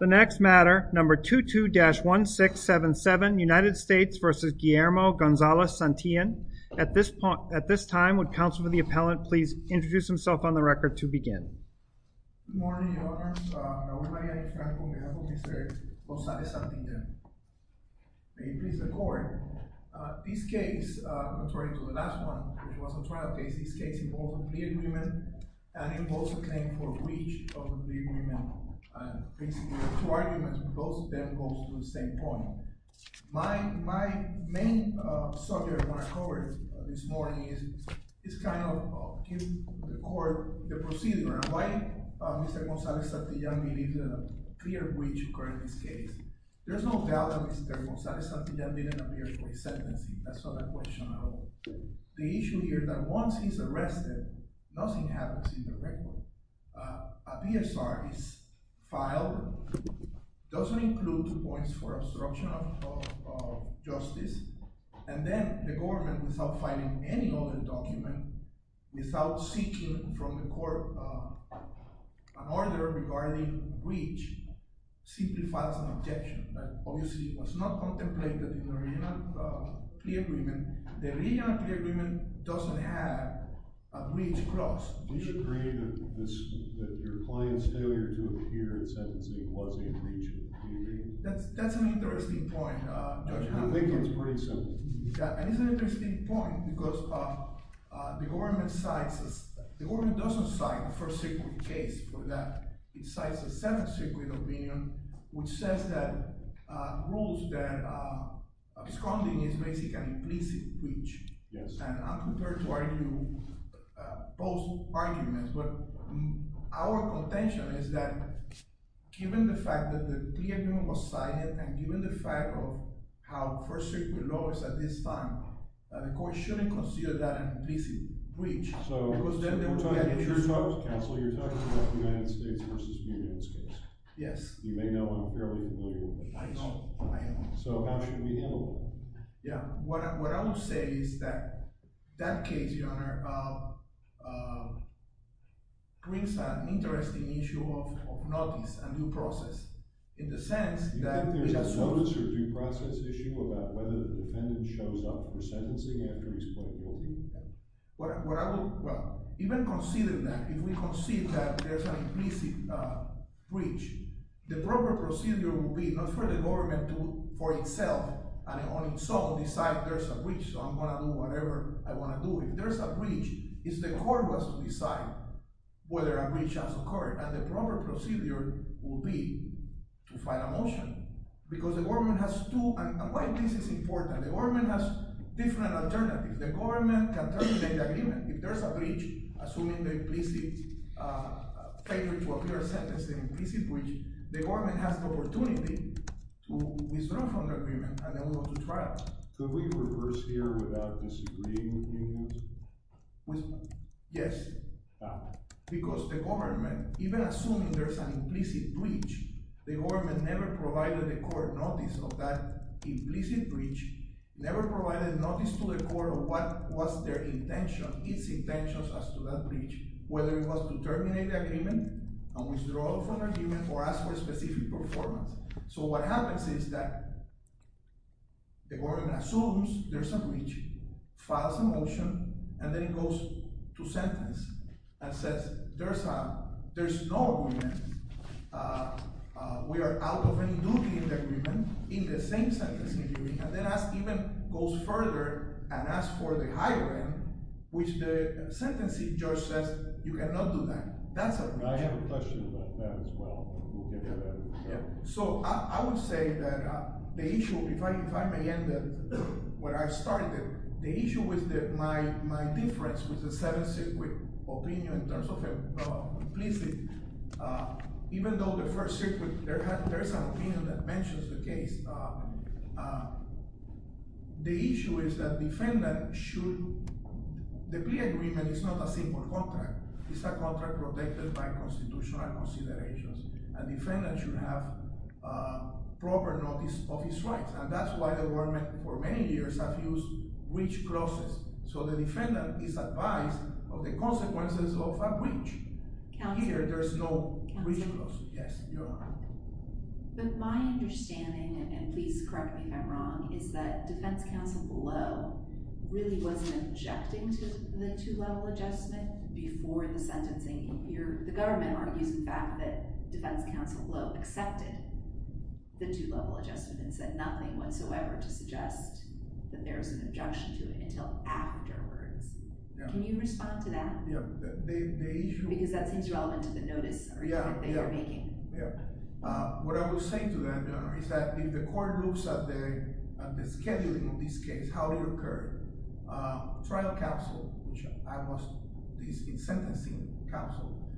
The next matter, number 22-1677, United States v. Guillermo Gonzalez-Santillan. At this point, at this time, would counsel for the appellant, please introduce himself on the record to begin. Good morning, Your Honor. My name is Raul Maria de Franco, on behalf of Mr. Gonzalez-Santillan. May you please record. This case, contrary to the last one, which was a trial case, this case involved a plea agreement and it was a claim for breach of the plea agreement. Basically, the two arguments, both of them goes to the same point. My main subject I want to cover this morning is, is kind of give the court the procedure. And why Mr. Gonzalez-Santillan believes that a clear breach occurred in this case. There's no doubt that Mr. Gonzalez-Santillan didn't appear for his sentencing. That's not a question at all. The issue here is that once he's arrested, nothing happens in the record. A PSR is filed, doesn't include points for obstruction of justice. And then the government, without filing any other document, without seeking from the court an order regarding breach, simplifies an objection. That obviously was not contemplated in the original plea agreement. The original plea agreement doesn't have a breach clause. Do you agree that your client's failure to appear in sentencing was a breach? That's an interesting point. I think it's pretty simple. It's an interesting point because the government doesn't cite a first-degree case for that. It cites a second-degree opinion, which says that rules, that absconding is basically an implicit breach. And I'm prepared to argue both arguments, but our contention is that given the fact that the plea agreement was cited and given the fact of how first-degree law is at this time, the court shouldn't consider that an implicit breach. So, counsel, you're talking about the United States v. Unions case. Yes. You may know him fairly well. I know. So how should we handle that? Yeah. What I would say is that that case, Your Honor, brings an interesting issue of notice and due process, in the sense that— Do you think there's a notice or due process issue about whether the defendant shows up for sentencing after he's plead guilty? What I would—well, even considering that, if we concede that there's an implicit breach, the proper procedure would be not for the government to—for itself, and on its own, decide there's a breach. So I'm going to do whatever I want to do. If there's a breach, it's the court who has to decide whether a breach has occurred. And the proper procedure would be to file a motion, because the government has to— And why this is important. The government has different alternatives. The government can terminate the agreement. If there's a breach, assuming the implicit favor to appear sentencing implicit breach, the government has the opportunity to withdraw from the agreement and then we go to trial. Could we reverse here without disagreeing with unions? Yes. Because the government, even assuming there's an implicit breach, the government never provided the court notice of that implicit breach, never provided notice to the court of what was their intention, its intentions as to that breach, whether it was to terminate the agreement, and withdraw from the agreement, or ask for a specific performance. So what happens is that the court assumes there's a breach, files a motion, and then it goes to sentence, and says there's no agreement. We are out of any duty in the agreement, in the same sentencing agreement, and then even goes further and asks for the higher end, which the sentencing judge says you cannot do that. I have a question about that as well. So I would say that the issue, if I may end it where I started, the issue with my difference with the seven-circuit opinion in terms of implicit, even though the first circuit, there's an opinion that mentions the case. The issue is that defendant should, the plea agreement is not a simple contract. It's a contract protected by constitutional considerations. A defendant should have proper notice of his rights, and that's why the government for many years have used breach clauses. So the defendant is advised of the consequences of a breach. Here, there's no breach clause. Yes, you're right. But my understanding, and please correct me if I'm wrong, is that defense counsel below really wasn't objecting to the two-level adjustment before the sentencing. The government argues, in fact, that defense counsel below accepted the two-level adjustment and said nothing whatsoever to suggest that there was an objection to it until afterwards. Can you respond to that? Because that seems relevant to the notice or the judgment that you're making. What I will say to that, Your Honor, is that if the court looks at the scheduling of this case, how it occurred, trial counsel, which I was the sentencing counsel,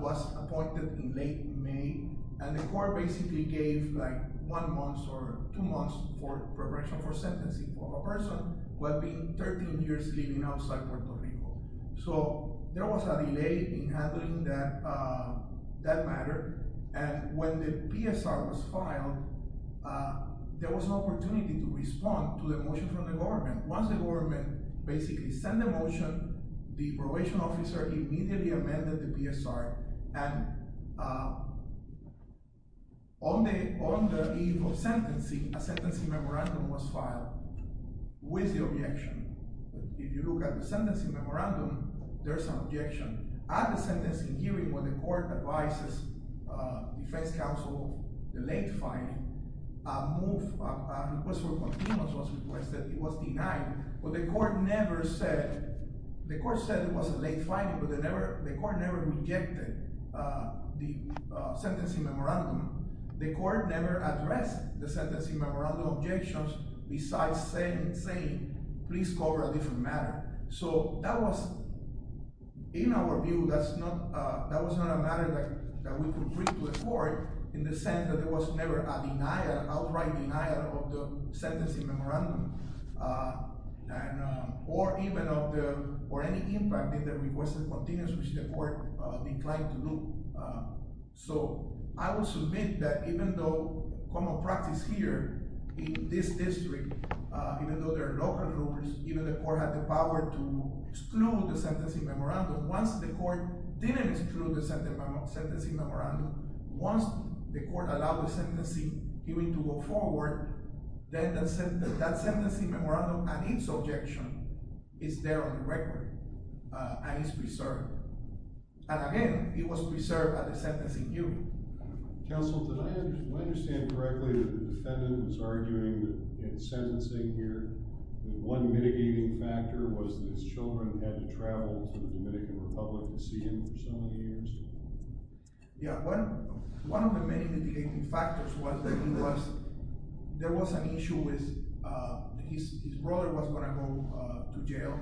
was appointed in late May, and the court basically gave like one month or two months for preparation for sentencing for a person who had been 13 years living outside Puerto Rico. So there was a delay in handling that matter, and when the PSR was filed, there was an opportunity to respond to the motion from the government. Once the government basically sent the motion, the probation officer immediately amended the PSR, and on the eve of sentencing, a sentencing memorandum was filed with the objection. If you look at the sentencing memorandum, there's an objection. At the sentencing hearing, when the court advises defense counsel, the late filing, a request for a continuance was requested. It was denied, but the court never said, the court said it was a late filing, but the court never rejected the sentencing memorandum. The court never addressed the sentencing memorandum objections besides saying, please cover a different matter. So that was, in our view, that was not a matter that we could bring to the court in the sense that there was never a denial, outright denial of the sentencing memorandum. And, or even of the, or any impact in the requested continence, which the court declined to do. So I will submit that even though common practice here in this district, even though there are local rumors, even the court had the power to exclude the sentencing memorandum. Once the court didn't exclude the sentencing memorandum, once the court allowed the sentencing hearing to go forward, then that sentencing memorandum and its objection is there on the record and is preserved. And again, it was preserved at the sentencing hearing. Counsel, did I understand correctly that the defendant was arguing that in sentencing here, that one mitigating factor was that his children had to travel to the Dominican Republic to see him for so many years? Yeah, one of the many mitigating factors was that he was, there was an issue with, his brother was going to go to jail.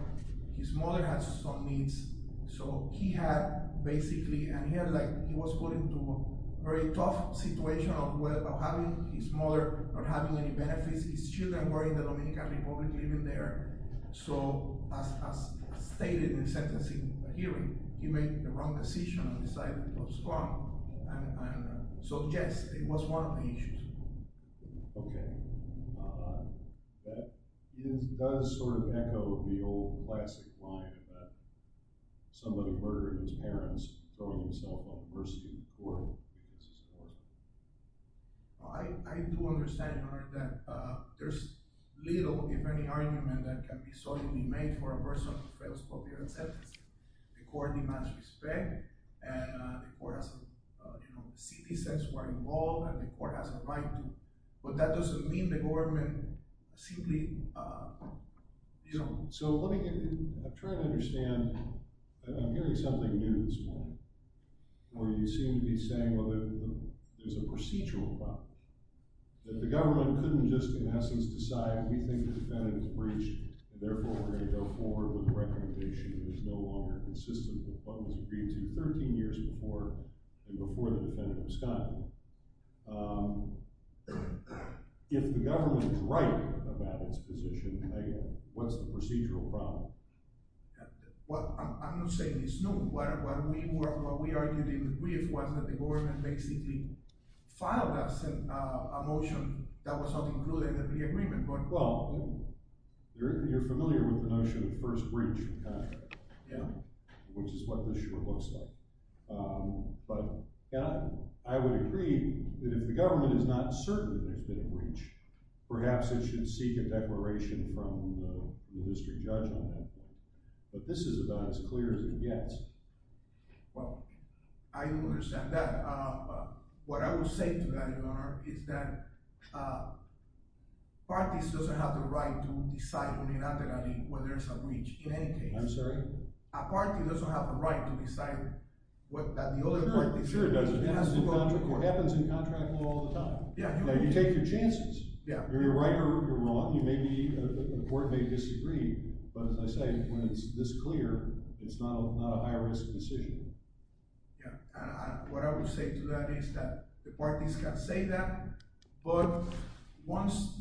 His mother had some needs. So he had basically, and he had like, he was put into a very tough situation of having his mother not having any benefits. His children were in the Dominican Republic living there. So as stated in the sentencing hearing, he made the wrong decision and decided to go to Spain. And so yes, it was one of the issues. Okay. That is, does sort of echo the old classic line about someone who murdered his parents throwing himself off the mercy of the court. I do understand that there's little, if any, argument that can be solidly made for a person who fails to appear in sentencing. The court demands respect, and the court has a, you know, citizens were involved, and the court has a right to. But that doesn't mean the government simply, you know. So let me get, I'm trying to understand, I'm hearing something new this morning, where you seem to be saying, well, there's a procedural problem, that the government couldn't just, in essence, decide, we think the defendant is breached, and therefore we're going to go forward with a recommendation that is no longer consistent with what was agreed to 13 years before, and before the defendant was gotten. If the government is right about its position, hey, what's the procedural problem? Well, I'm not saying it's new. What we argued in the brief was that the government basically filed us a motion that was not included in the agreement. Well, you're familiar with the notion of first breach of contract, which is what this sure looks like. But I would agree that if the government is not certain that there's been a breach, perhaps it should seek a declaration from the district judge on that. But this is about as clear as it gets. Well, I understand that. What I would say to that, Your Honor, is that parties doesn't have the right to decide unilaterally when there's a breach, in any case. I'm sorry? A party doesn't have a right to decide what that the other party... Sure, it does. It happens in contract law all the time. Yeah. Now, you take your chances. Yeah. You're right or you're wrong. You may be, the court may disagree. But as I say, when it's this clear, it's not a high-risk decision. Yeah, and what I would say to that is that the parties can say that. But once,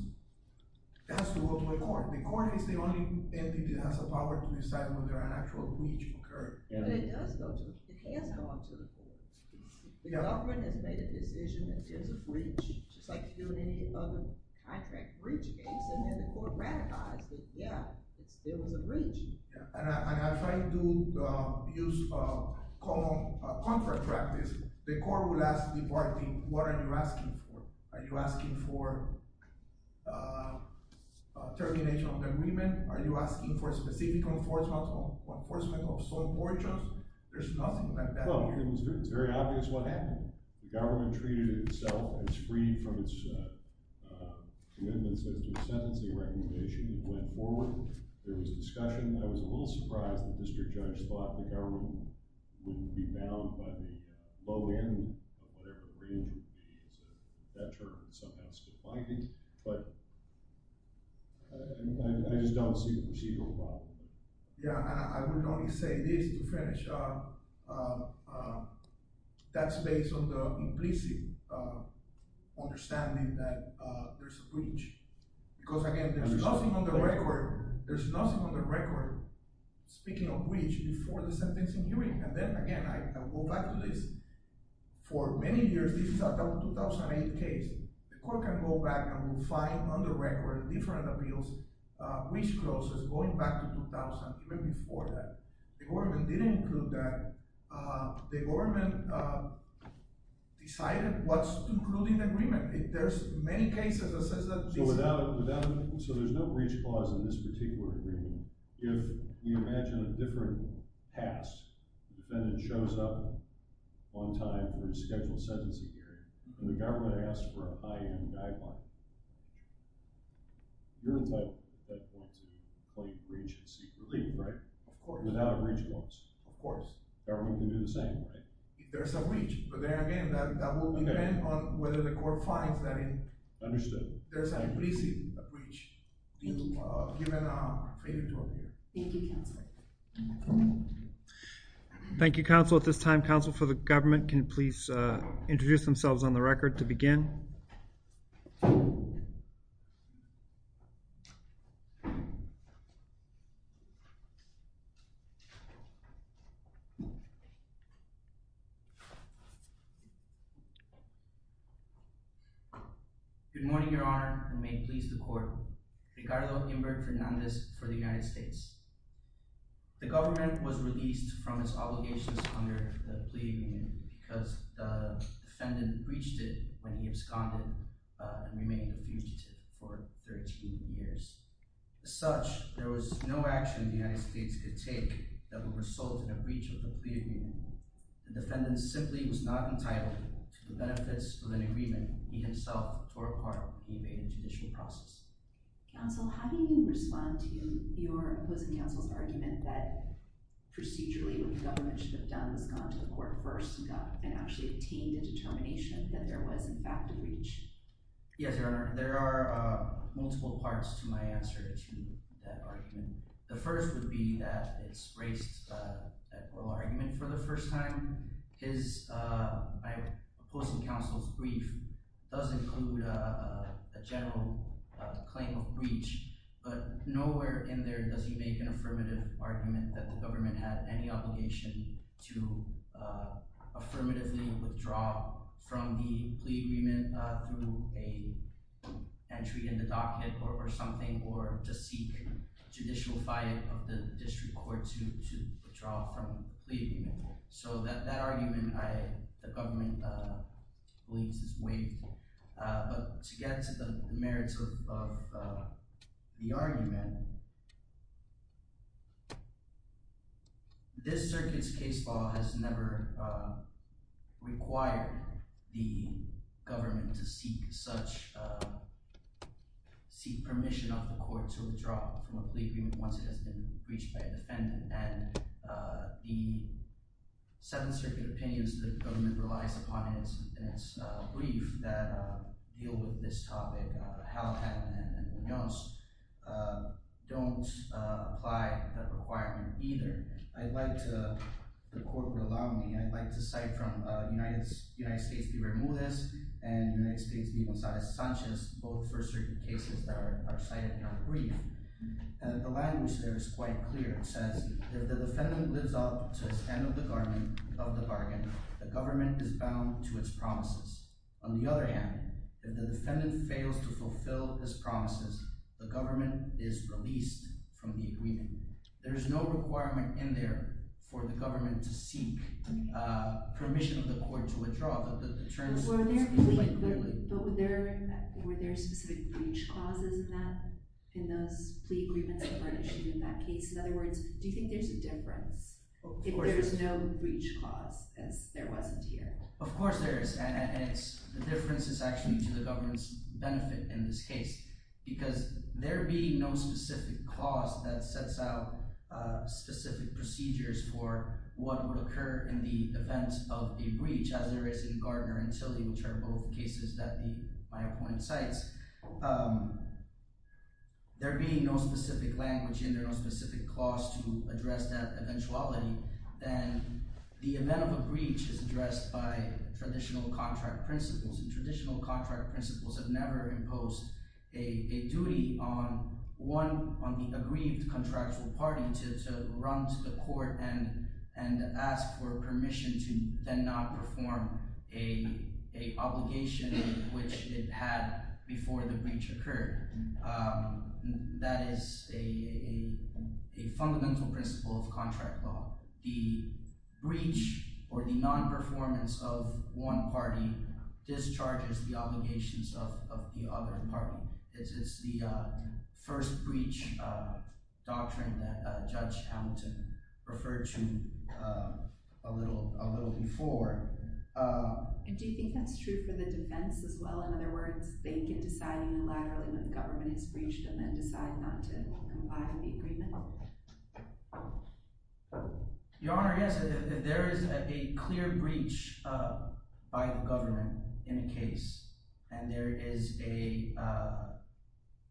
it has to go to a court. The court is the only entity that has a power to decide whether an actual breach occurred. Yeah, but it does go to, it has gone to the court. The government has made a decision in terms of breach, just like you do in any other contract breach case. And then the court ratifies that, yeah, there was a breach. And I try to use a common contract practice. The court will ask the party, what are you asking for? Are you asking for termination of the agreement? Are you asking for specific enforcement of sole mortuos? There's nothing like that. Well, it's very obvious what happened. The government treated itself as free from its commitments as to a sentencing recommendation that went forward. There was discussion. I was a little surprised the district judge thought the government wouldn't be bound by the low end of whatever the range would be. So that term is somehow still binding. But I just don't see the machine going by. Yeah, I would only say this to finish. That's based on the implicit understanding that there's a breach. Because again, there's nothing on the record. There's nothing on the record speaking of breach before the sentencing hearing. And then again, I go back to this. For many years, this is a 2008 case. The court can go back and find on the record different appeals, breach clauses going back to 2000, even before that. The government didn't include that. The government decided what's included in the agreement. There's many cases that says that. So without, so there's no breach clause in this particular agreement. If we imagine a different past, the defendant shows up on time for a scheduled sentencing hearing and the government asks for a high-end guideline, you're entitled at that point to claim breach secretly, right? Of course. Without a breach clause. Of course. Government can do the same, right? If there's a breach, but then again, that will depend on whether the court finds that in. Understood. There's a breaching breach, given our favor to appear. Thank you, Counselor. Thank you, Counselor. At this time, counsel for the government can please introduce themselves on the record to begin. Good morning, Your Honor. And may it please the court. Ricardo Humbert Fernandez for the United States. The government was released from its obligations under the plea agreement because the defendant breached it when he absconded and remained a fugitive for 13 years. As such, there was no action the United States could take that would result in a breach of the plea agreement. The defendant simply was not entitled to the benefits of an agreement he himself tore apart when he made a judicial process. Counsel, how do you respond to your opposing counsel's argument that procedurally what the government should have done was gone to the court first and actually obtained a determination that there was in fact a breach? Yes, Your Honor. There are multiple parts to my answer to that argument. The first would be that it's raised at oral argument for the first time. His opposing counsel's brief does include a general claim of breach, but nowhere in there does he make an affirmative argument that the government had any obligation to affirmatively withdraw from the plea agreement through a entry in the docket or something or to seek judicial fight of the district court to withdraw from the plea agreement. So that argument, the government believes, is waived. But to get to the merits of the argument, this circuit's case law has never required the government to seek such, seek permission of the court to withdraw from a plea agreement once it has been breached by a defendant. And the Seventh Circuit opinions that the government relies on, Halopan and Munoz, don't apply that requirement either. I'd like to, the court would allow me, I'd like to cite from United States' B. Ramirez and United States' B. Gonzalez-Sanchez, both for circuit cases that are cited in our brief. The language there is quite clear. It says, if the defendant lives up to his end of the bargain, the government is bound to its promises. On the other hand, if the defendant fails to fulfill his promises, the government is released from the agreement. There is no requirement in there for the government to seek permission of the court to withdraw, but the terms speak quite clearly. But were there specific breach clauses in that, in those plea agreements that were issued in that case? In other words, do you think there's a difference if there's no breach clause, as there wasn't here? Of course there is, and it's, the difference is actually to the government's benefit in this case, because there being no specific clause that sets out specific procedures for what would occur in the event of a breach, as there is in Gardner and Tilly, which are both cases that the, my opponent cites, there being no specific language in there, no specific clause to address that eventuality, then the event of a breach is addressed by traditional contract principles, and traditional contract principles have never imposed a duty on one, on the aggrieved contractual party to run to the court and ask for permission to then not perform a obligation which it had before the breach occurred. That is a fundamental principle of contract law. The breach or the non-performance of one party discharges the obligations of the other party. It's the first breach doctrine that Judge Hamilton referred to a little before. And do you think that's true for the defense as well? In other words, they can decide unilaterally when the government has breached and then decide not to comply with the agreement? Your Honor, yes, there is a clear breach by the government in the case, and there is a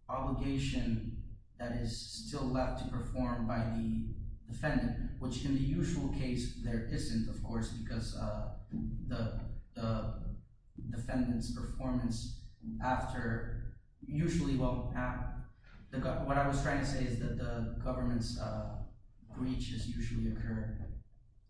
obligation that is still left to perform by the defendant, which in the usual case there isn't, of course, because the defendant's performance after, usually, well, what I was trying to say is that the government's breach has usually occurred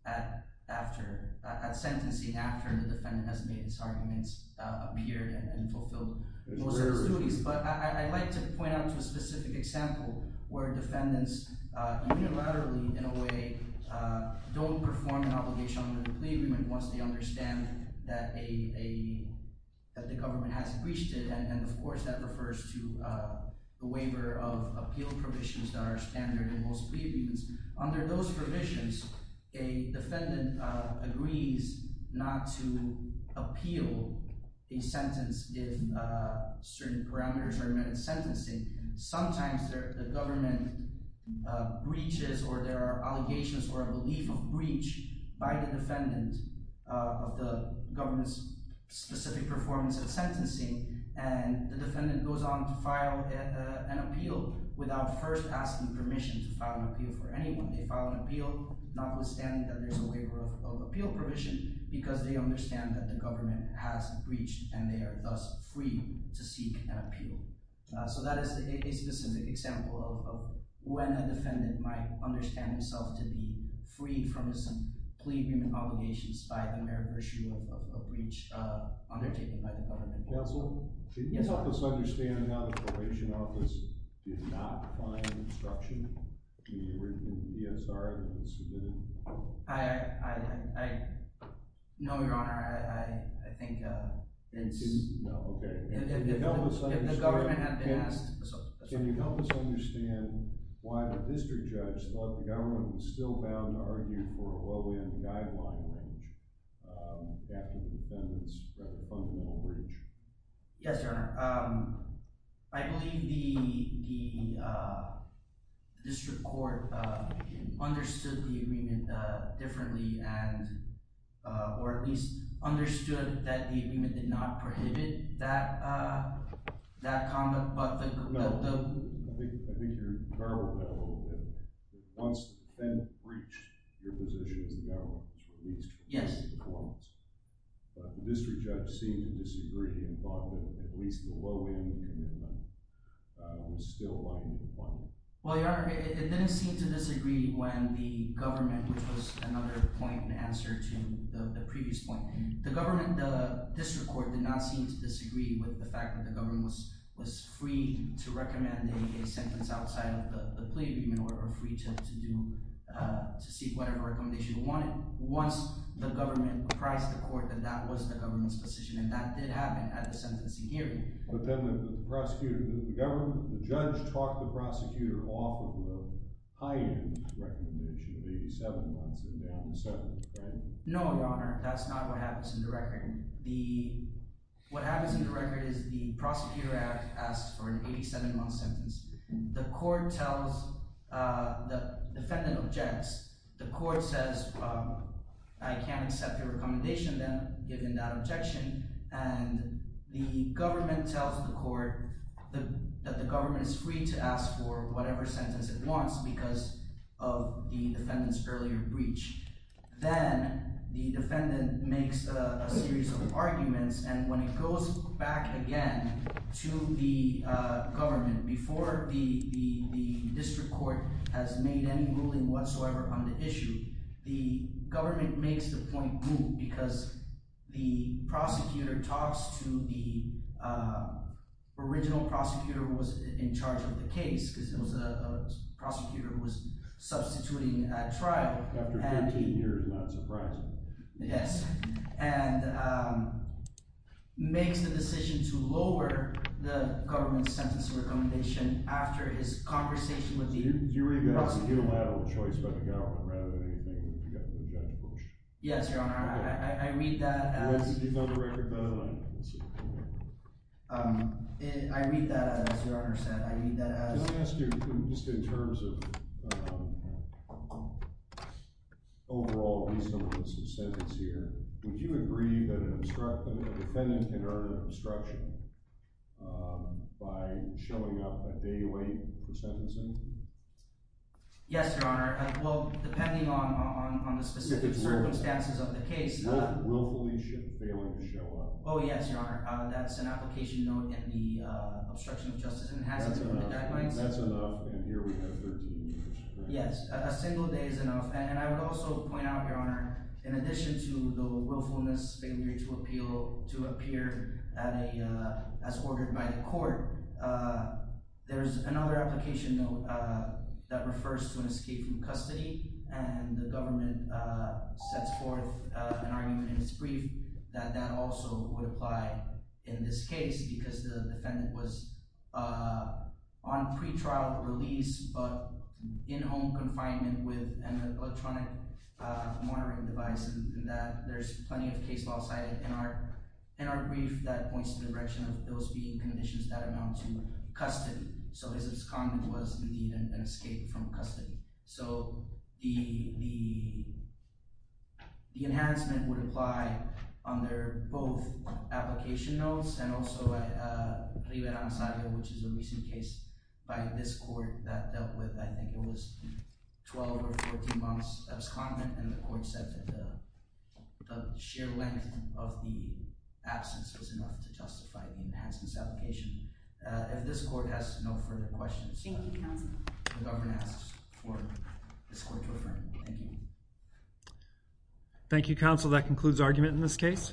at sentencing after the defendant has made his arguments appear and fulfilled most of his duties. But I'd like to point out a specific example where defendants unilaterally, in a way, don't perform an obligation under the plea agreement once they understand that the government has breached it. And, of course, that refers to the waiver of appeal provisions that are standard in most plea agreements. Under those provisions, a defendant agrees not to appeal a sentence if certain parameters are met at sentencing. Sometimes the government breaches or there are allegations or a belief of breach by the defendant of the government's specific performance at sentencing, and the defendant goes on to file an appeal without first asking permission to file an appeal for anyone. They file an appeal notwithstanding that there's a waiver of appeal provision because they understand that the government has breached and they are thus free to seek an appeal. So that is a specific example of when a defendant might understand himself to be free from his plea agreement obligations by the mere virtue of a breach undertaken by the government. Counsel, can you help us understand how the probation office did not find obstruction when you were in the DSR and submitted? I, I, I, no, Your Honor. I, I, I think it's... No, okay. Can you help us understand... If the government had been asked... Can you help us understand why the district judge thought the government was still bound to argue for a low-end guideline range after the defendant's rather fundamental breach? Yes, Your Honor. I believe the, the district court understood the agreement differently and, or at least understood that the agreement did not prohibit that, that conduct, but the... No, I think, I think you're corroborating that a little bit. Once the defendant breached your position because the government was released from Columbus. Yes. But the district judge seemed to disagree and thought that at least the low-end and then the... was still lying to the public. Well, Your Honor, it didn't seem to disagree when the government, which was another point in answer to the, the previous point, the government, the district court did not seem to disagree with the fact that the government was, was free to recommend a, a sentence outside of the, the plea agreement or free to, to do, to seek whatever recommendation they wanted. Once the government apprised the court that that was the government's position and that did happen at the sentencing hearing. But then the prosecutor, the government, the judge talked the prosecutor off of a high-end recommendation of 87 months and down to seven, right? No, Your Honor. That's not what happens in the record. The, what happens in the record is the prosecutor asked for an 87-month sentence. The court tells the defendant and the defendant objects. The court says, I can't accept your recommendation then given that objection and the government tells the court that the government is free to ask for whatever sentence it wants because of the defendant's earlier breach. Then the defendant makes a series of arguments and when it goes back again to the government before the, the district court has made any ruling whatsoever on the issue, the government makes the point move because the prosecutor talks to the original prosecutor who was in charge of the case because it was a prosecutor who was substituting at trial. After 14 years, not surprising. Yes, and makes the decision to lower the government's sentencing recommendation after his conversation with you. Do you read that as a unilateral choice by the government rather than anything you got the judge to push? Yes, your honor. I read that as... I read that as, your honor said, I read that as... Can I ask you, just in terms of overall reason for this sentence here, would you agree that an obstruction, a defendant can earn an obstruction by showing up at day 8 for sentencing? Yes, your honor. Well, depending on the specific circumstances of the case... Willfully failing to show up. Oh, yes, your honor. That's an application note in the obstruction of justice and hazards guidelines. That's enough, and here we have 13 years. Yes, a single day is enough, and I would also point out, your honor, in addition to the willfulness failure to appeal, to appear at a, as ordered by the court, there's another application note that refers to an escape from custody, and the government sets forth an argument in its brief that that also would apply in this case, because the defendant was on pretrial release, but in home confinement with an electronic monitoring device, and that there's plenty of case law cited in our obstruction of those being conditions that amount to custody, so his abscondent was, indeed, an escape from custody. So, the enhancement would apply under both application notes, and also Rivera Ansario, which is a recent case by this court that dealt with, I think it was, 12 or 14 months abscondent, and the court said that the sheer length of the notice justified the enhancement application. If this court has no further questions, the government asks for this court to affirm. Thank you. Thank you, counsel. That concludes argument in this case.